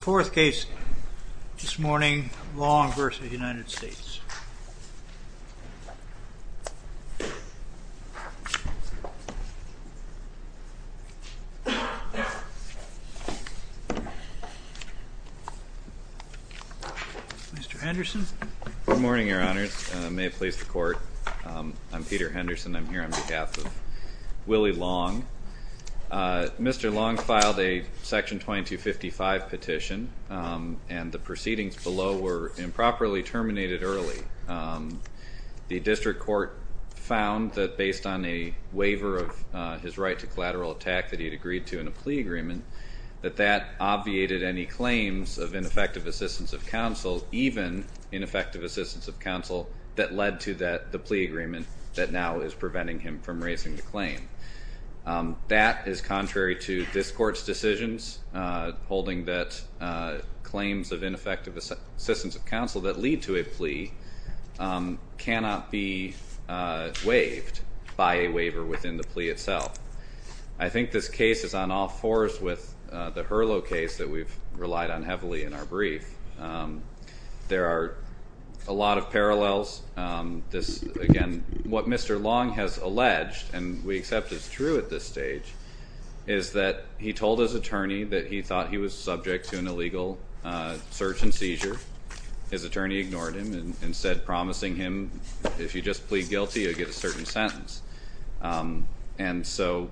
Fourth case this morning, Long v. United States Mr. Henderson. Good morning your honors. May it please the court. I'm Peter Henderson. I'm here on behalf of and the proceedings below were improperly terminated early. The district court found that based on a waiver of his right to collateral attack that he had agreed to in a plea agreement, that that obviated any claims of ineffective assistance of counsel, even ineffective assistance of counsel, that led to the plea agreement that now is preventing him from raising the claim. That is claims of ineffective assistance of counsel that lead to a plea cannot be waived by a waiver within the plea itself. I think this case is on all fours with the Hurlow case that we've relied on heavily in our brief. There are a lot of parallels. This, again, what Mr. Long has alleged and we accept is true at this stage, is that he told his attorney that he thought he was subject to an illegal search and seizure. His attorney ignored him and said, promising him, if you just plead guilty you'll get a certain sentence. And so,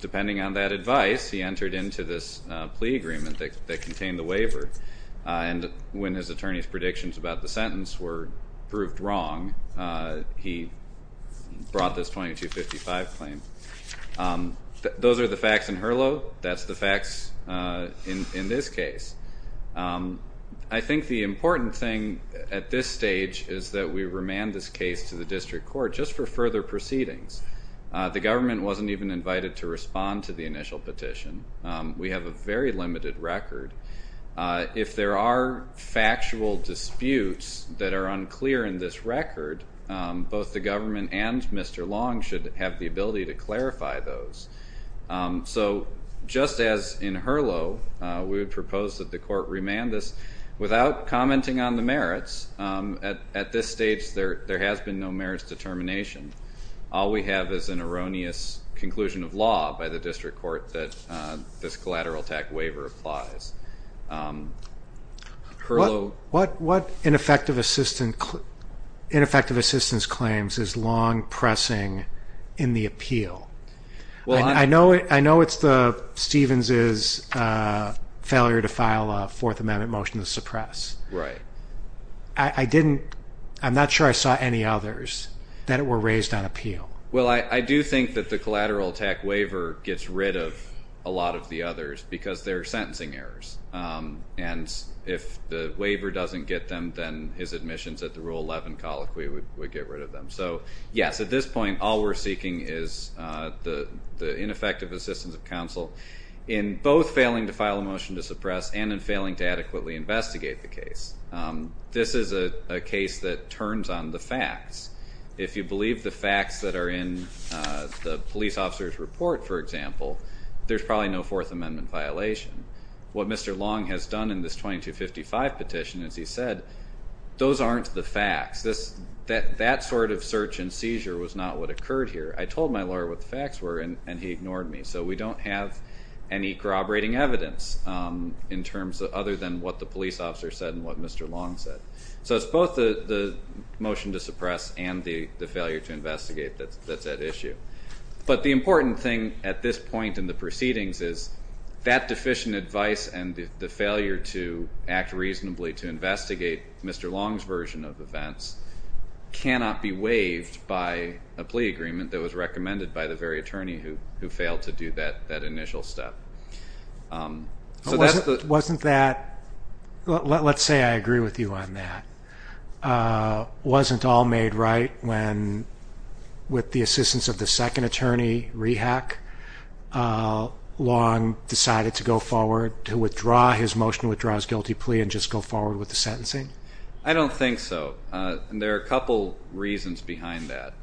depending on that advice, he entered into this plea agreement that contained the waiver. And when his attorney's predictions about the sentence were proved wrong, he brought this 2255 claim. Those are the facts in Hurlow. That's the facts in this case. I think the important thing at this stage is that we remand this case to the district court just for further proceedings. The government wasn't even invited to respond to the initial petition. We have a very limited record. If there are factual disputes that are unclear in this record, both the government and Mr. Long should have the ability to clarify those. So, just as in Hurlow, we would propose that the court remand this without commenting on the merits. At this stage, there has been no merits determination. All we have is an erroneous conclusion of law by the district court that this collateral attack waiver applies. What ineffective assistance claims is Long pressing in the appeal? I know it's the Stevens's failure to file a Fourth Amendment motion to suppress. I'm not sure I saw any others that were raised on appeal. Well, I do think that the collateral attack waiver gets rid of a lot of the others because they're sentencing errors. And if the waiver doesn't get them, then his admissions at the Rule 11 colloquy would get rid of them. So, yes, at this point, all we're in both failing to file a motion to suppress and in failing to adequately investigate the case. This is a case that turns on the facts. If you believe the facts that are in the police officer's report, for example, there's probably no Fourth Amendment violation. What Mr. Long has done in this 2255 petition, as he said, those aren't the facts. That sort of search and seizure was not what occurred here. I told my lawyer what the facts were and he ignored me. So, we don't have any corroborating evidence in terms of other than what the police officer said and what Mr. Long said. So, it's both the motion to suppress and the failure to investigate that's at issue. But the important thing at this point in the proceedings is that deficient advice and the failure to act reasonably to investigate Mr. Long's version of events cannot be waived by a plea agreement that was recommended by the very attorney who failed to do that initial step. Wasn't that, let's say I agree with you on that, wasn't all made right when, with the assistance of the second attorney, Rehak, Long decided to go forward to withdraw his motion, withdraw his guilty plea, and just go forward with the sentencing? I don't think so. There are a couple reasons behind that.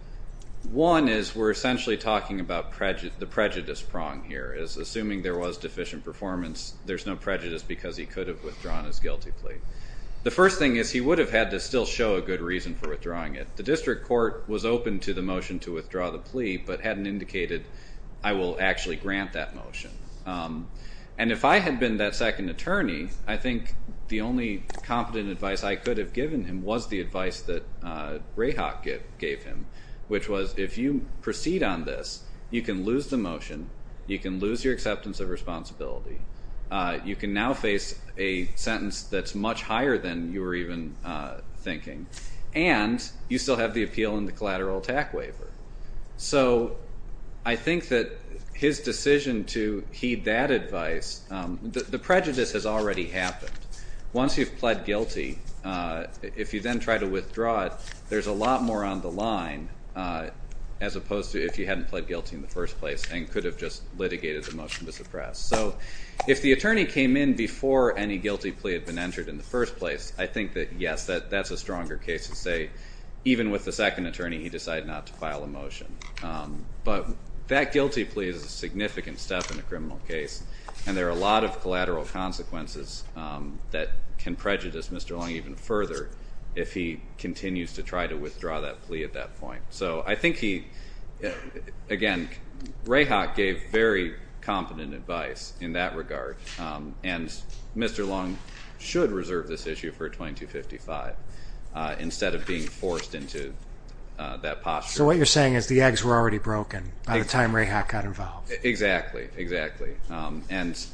One is we're essentially talking about the prejudice prong here, is assuming there was deficient performance, there's no prejudice because he could have withdrawn his guilty plea. The first thing is he would have had to still show a good reason for withdrawing it. The district court was open to the motion to withdraw the plea, but hadn't indicated I will actually grant that motion. And if I had been that second attorney, I think the only competent advice I could have given him was the advice that Rehak gave him, which was if you proceed on this, you can lose the motion, you can lose your acceptance of responsibility, you can now face a sentence that's much higher than you were even thinking, and you still have the appeal and the collateral attack waiver. So I think that his decision to heed that advice, the prejudice has already happened. Once you've pled guilty, if you then try to withdraw it, there's a lot more on the line as opposed to if you hadn't pled guilty in the first place and could have just litigated the motion to suppress. So if the attorney came in before any guilty plea had been entered in the first place, I think that yes, that's a stronger case to say, even with the second attorney, he decided not to file a motion. But that guilty plea is a significant step in a criminal case, and there are a lot of collateral consequences that can prejudice Mr. Leung even further if he continues to try to withdraw that plea at that point. So I think he... Again, Rehak gave very competent advice in that regard, and Mr. Leung should reserve this issue for a 2255 instead of being forced into that posture. So what you're saying is the eggs were already broken by the time Rehak got involved. Exactly, exactly. And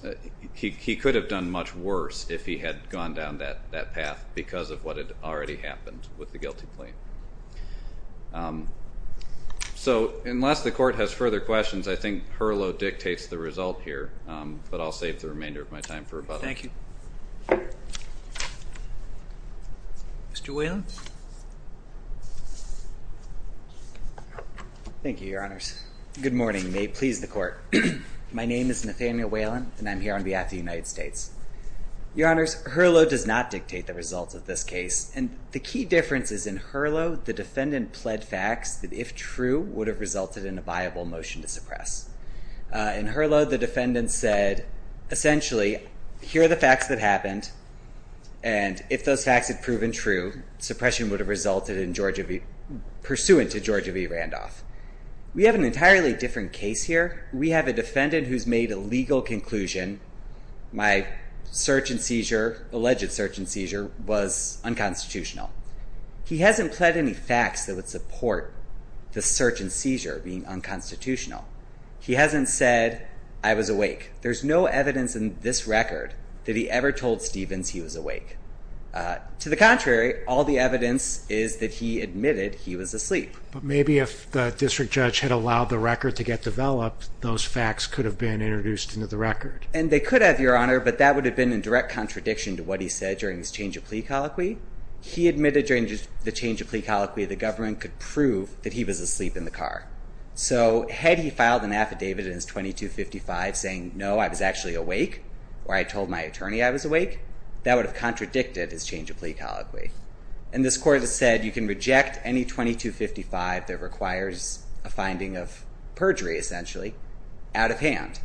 he could have done much worse if he had gone down that path because of what had already happened with the guilty plea. So unless the court has further questions, I think Herlow dictates the result here, but I'll save the remainder of my time for about... Thank you. Mr. Whelan. Thank you, Your Honors. Good morning. May it please the court. My name is Nathaniel Whelan, and I'm here on behalf of the United States. Your Honors, Herlow does not dictate the results of this case, and the key difference is in Herlow, the defendant pled facts that if true, would have resulted in a viable motion to suppress. In Herlow, the defendant said, essentially, here are the facts that happened, and if those facts had proven true, suppression would have resulted in pursuant to Georgia v. Randolph. We have an entirely different case here. We have a defendant who's made a legal conclusion, my search and seizure, alleged search and seizure, was unconstitutional. He hasn't pled any facts that would support the search and seizure being unconstitutional. He hasn't said, I was awake. There's no evidence in this record that he ever told Stevens he was awake. To the contrary, all the evidence is that he admitted he was asleep. But maybe if the district judge had allowed the record to get developed, those facts could have been introduced into the record. And they could have, Your Honor, but that would have been in direct contradiction to what he said during his change of plea colloquy. He admitted during the change of plea colloquy, the government could prove that he was asleep in the car. So, had he filed an affidavit in his 2255 saying, no, I was actually awake, or I told my attorney I was awake, that would have contradicted his change of plea colloquy. And this court has been able to reject any 2255 that requires a finding of perjury, essentially, out of hand.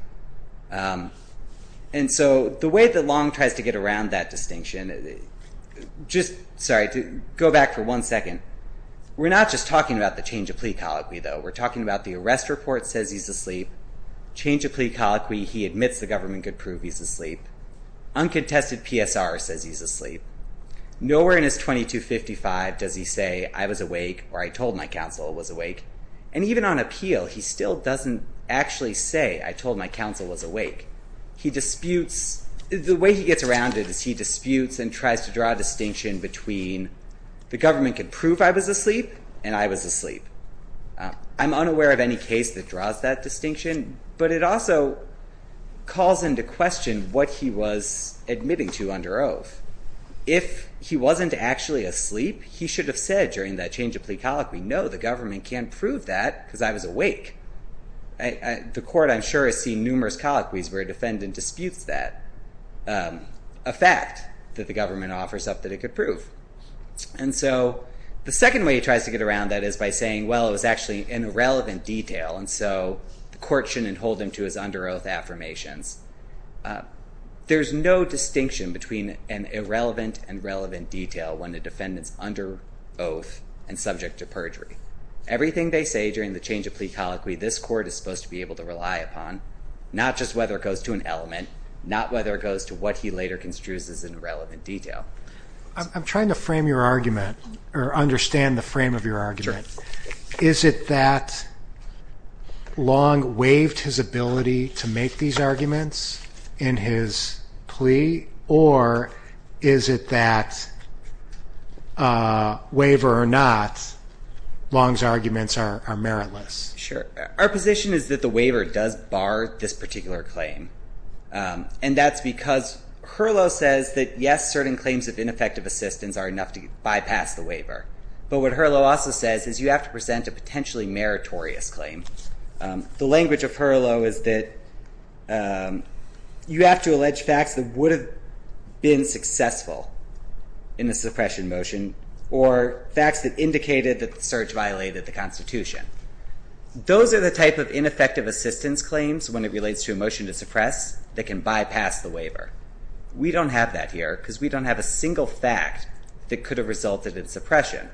And so, the way that Long tries to get around that distinction, just... Sorry, go back for one second. We're not just talking about the change of plea colloquy, though. We're talking about the arrest report says he's asleep. Change of plea colloquy, he admits the government could prove he's asleep. Uncontested PSR says he's asleep. Nowhere in his 2255 does he say, I was awake, or I told my counsel I was awake. And even on appeal, he still doesn't actually say, I told my counsel was awake. He disputes... The way he gets around it is he disputes and tries to draw a distinction between the government could prove I was asleep and I was asleep. I'm unaware of any case that draws that distinction, but it also calls into question what he was admitting to under oath. If he wasn't actually asleep, he should have said during that change of plea colloquy, no, the government can't prove that because I was awake. The court, I'm sure, has seen numerous colloquies where a defendant disputes that, a fact that the government offers up that it could prove. And so, the second way he tries to get around that is by saying, well, it was actually an irrelevant detail, and so the court shouldn't hold him to his under oath affirmations. There's no distinction between an irrelevant and relevant detail when a defendant's under oath and subject to perjury. Everything they say during the change of plea colloquy, this court is supposed to be able to rely upon, not just whether it goes to an element, not whether it goes to what he later construes as an irrelevant detail. I'm trying to frame your argument, or understand the frame of your argument. Is it that Long waived his ability to make these arguments in his plea, or is it that, waiver or not, Long's arguments are meritless? Sure. Our position is that the waiver does bar this particular claim, and that's because Herlow says that, yes, certain claims of ineffective assistance are enough to bypass the waiver. But what Herlow also says is, you have to present a potentially meritorious claim. The language of Herlow is that, you have to allege facts that would have been successful in the suppression motion, or facts that indicated that the search violated the Constitution. Those are the type of ineffective assistance claims, when it relates to a motion to suppress, that can bypass the waiver. We don't have that here, because we don't have a single fact that could have resulted in suppression.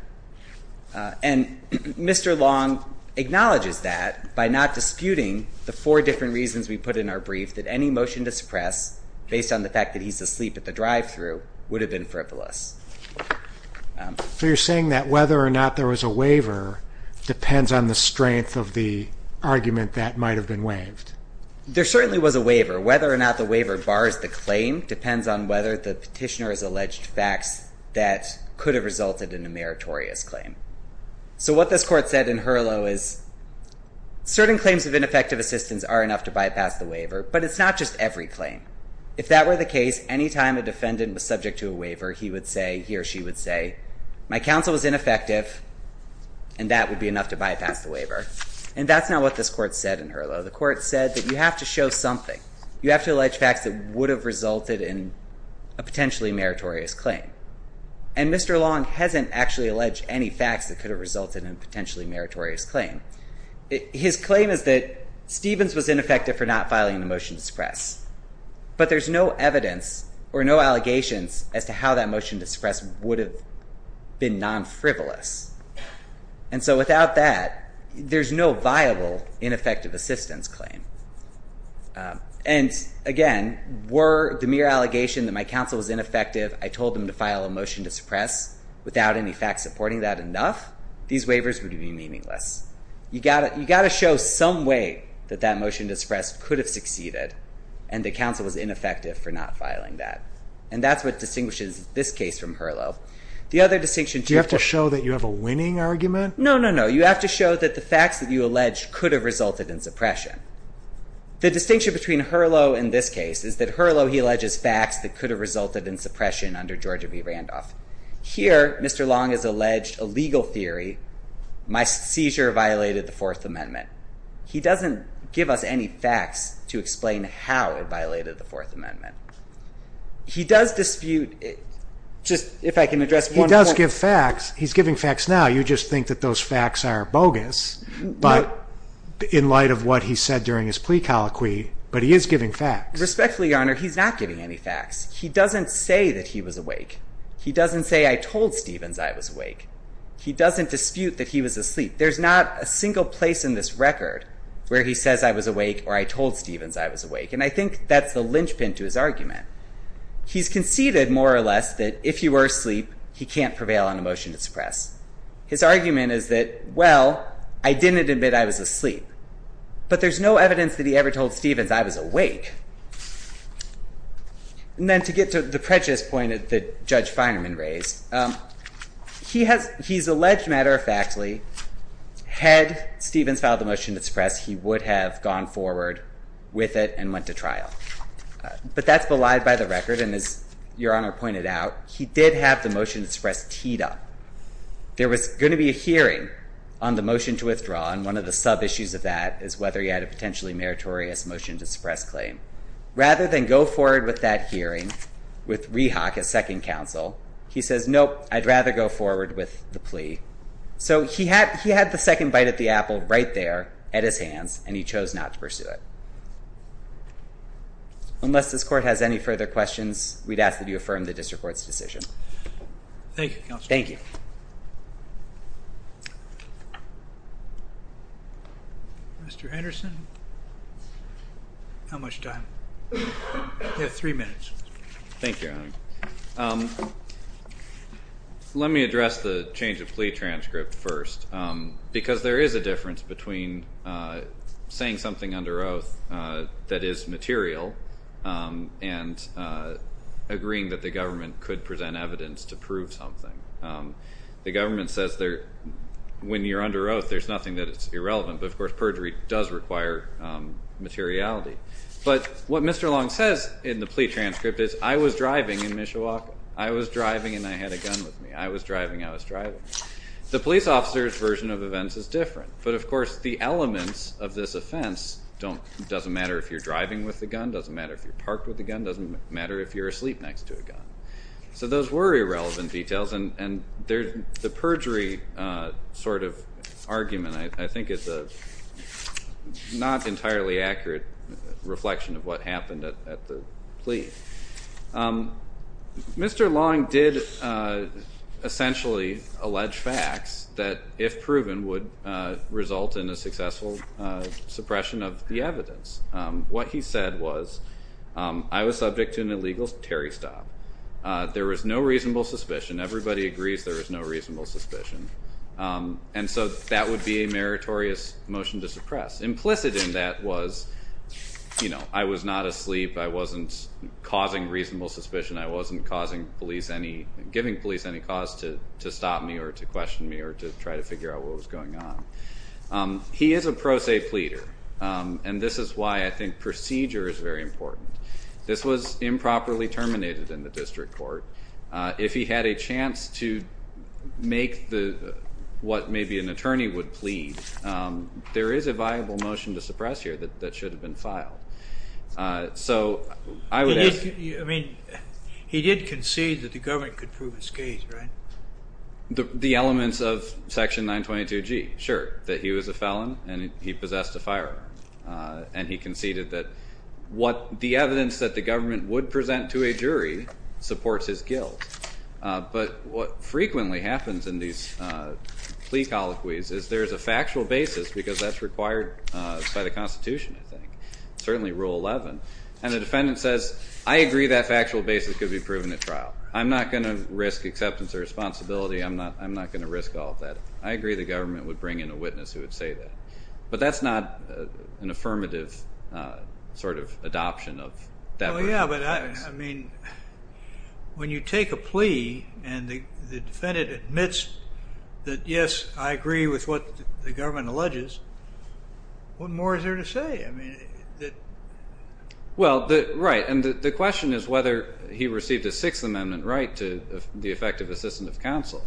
And Mr. Long acknowledges that, by not disputing the four different reasons we put in our brief, that any motion to suppress, based on the fact that he's asleep at the drive-thru, would have been frivolous. So you're saying that, whether or not there was a waiver, depends on the strength of the argument that might have been waived? There certainly was a waiver. Whether or not the waiver bars the claim, depends on whether the petitioner has alleged facts that could have resulted in a meritorious claim. So what this court said in Herlow is, certain claims of ineffective assistance are enough to bypass the waiver, but it's not just every claim. If that were the case, anytime a defendant was subject to a waiver, he would say, he or she would say, my counsel was ineffective, and that would be enough to bypass the waiver. And that's not what this court said in Herlow. The court said that you have to show something. You have to allege facts that would have resulted in a potentially meritorious claim. And Mr. Long hasn't actually alleged any facts that could have resulted in a potentially meritorious claim. His claim is that Stevens was ineffective for not filing the motion to suppress, but there's no evidence or no allegations as to how that motion to suppress would have been non frivolous. And so without that, there's no viable ineffective assistance claim. And again, were the mere allegation that my counsel was ineffective, I told them to file a motion to suppress without any facts supporting that enough, these waivers would be meaningless. You gotta show some way that that motion to suppress could have succeeded, and the counsel was ineffective for not filing that. And that's what distinguishes this case from Herlow. The other distinction... Do you have to show that you have a winning argument? No, no, no. You have to show that the facts that you allege could have resulted in suppression. The distinction between Herlow and this case is that Herlow, he alleges facts that could have resulted in suppression under George B. Randolph. Here, Mr. Long has alleged a legal theory, my seizure violated the Fourth Amendment. He doesn't give us any facts to explain how it violated the Fourth Amendment. He does dispute... Just if I can address one point... He does give facts. He's giving facts now. You just think that those facts are bogus, but in light of what he said during his plea colloquy, but he is giving facts. Respectfully, Your Honor, he's not giving any facts. He doesn't say that he was awake. He doesn't say, I told Stevens I was awake. He doesn't dispute that he was asleep. There's not a single place in this record where he says, I was awake, or I told Stevens I was awake. And I think that's the linchpin to his argument. He's conceded, more or less, that if he were asleep, he can't prevail on a motion to suppress. His argument is that, well, I didn't admit I was asleep, but there's no evidence that he ever told Stevens I was awake. And then to get to the prejudice point that Judge Feinerman raised, he's alleged, matter of factly, had Stevens filed a motion to suppress, he would have gone forward with it and went to trial. But that's belied by the record, and as Your Honor pointed out, he did have the motion to suppress teed up. There was gonna be a hearing on the motion to withdraw, and one of the sub issues of that is whether he had a potentially meritorious motion to suppress claim. Rather than go forward with that hearing with Rehock, his second counsel, he says, Nope, I'd rather go forward with the plea. So he had the second bite at the hand, and he chose not to pursue it. Unless this court has any further questions, we'd ask that you affirm the district court's decision. Thank you, counsel. Thank you. Mr. Anderson. How much time? You have three minutes. Thank you, Your Honor. Let me address the change of plea transcript first, because there is a difference between saying something under oath that is material and agreeing that the government could present evidence to prove something. The government says when you're under oath, there's nothing that is irrelevant, but of course, perjury does require materiality. But what Mr. Long says in the plea transcript is, I was driving in Mishawaka. I was driving and I had a gun with me. I was driving, I was driving. The police officer's version of events is different. But of course, the elements of this offense doesn't matter if you're driving with a gun, doesn't matter if you're parked with a gun, doesn't matter if you're asleep next to a gun. So those were irrelevant details, and the perjury sort of argument, I think, is a not entirely accurate reflection of what happened at the plea. Mr. Long did essentially allege facts that, if proven, would result in a successful suppression of the evidence. What he said was, I was subject to an illegal Terry stop. There was no reasonable suspicion. Everybody agrees there was no reasonable suspicion. And so that would be a meritorious motion to suppress. Implicit in that was, I was not asleep, I wasn't causing reasonable suspicion, I wasn't giving police any cause to stop me or to question me or to try to figure out what was going on. He is a pro se pleader, and this is why I think procedure is very important. This was improperly terminated in the district court. If he had a chance to make what maybe an attorney would plead, there is a viable motion to suppress here that should have been filed. So I would ask... He did concede that the government could prove his case, right? The elements of section 922G, sure, that he was a felon and he possessed a firearm. And he conceded that what the evidence that the government would present to a jury supports his guilt. But what frequently happens in these plea colloquies is there's a factual basis, because that's required by the Constitution, I think, certainly Rule 11. And the defendant says, I agree that factual basis could be proven at trial. I'm not gonna risk acceptance or responsibility, I'm not gonna risk all of that. I agree the government would bring in a witness who would say that. But that's not an affirmative sort of adoption of that rule. Yeah, but I mean, when you take a plea and the defendant admits that, yes, I agree with what the government alleges, what more is there to say? I mean, that... Well, right. And the question is whether he received a Sixth Amendment right to the effect of assistant of counsel.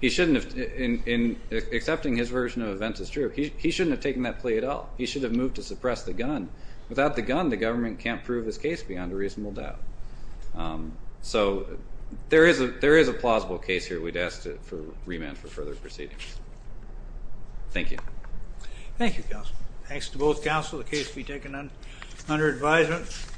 He shouldn't have... In accepting his version of events as true, he shouldn't have taken that plea at all. He should have moved to suppress the gun. Without the gun, the government can't prove his case beyond a reasonable doubt. So there is a plausible case here we'd ask for remand for further proceedings. Thank you. Thank you, counsel. Thanks to both counsel. The case will be taken under advisement.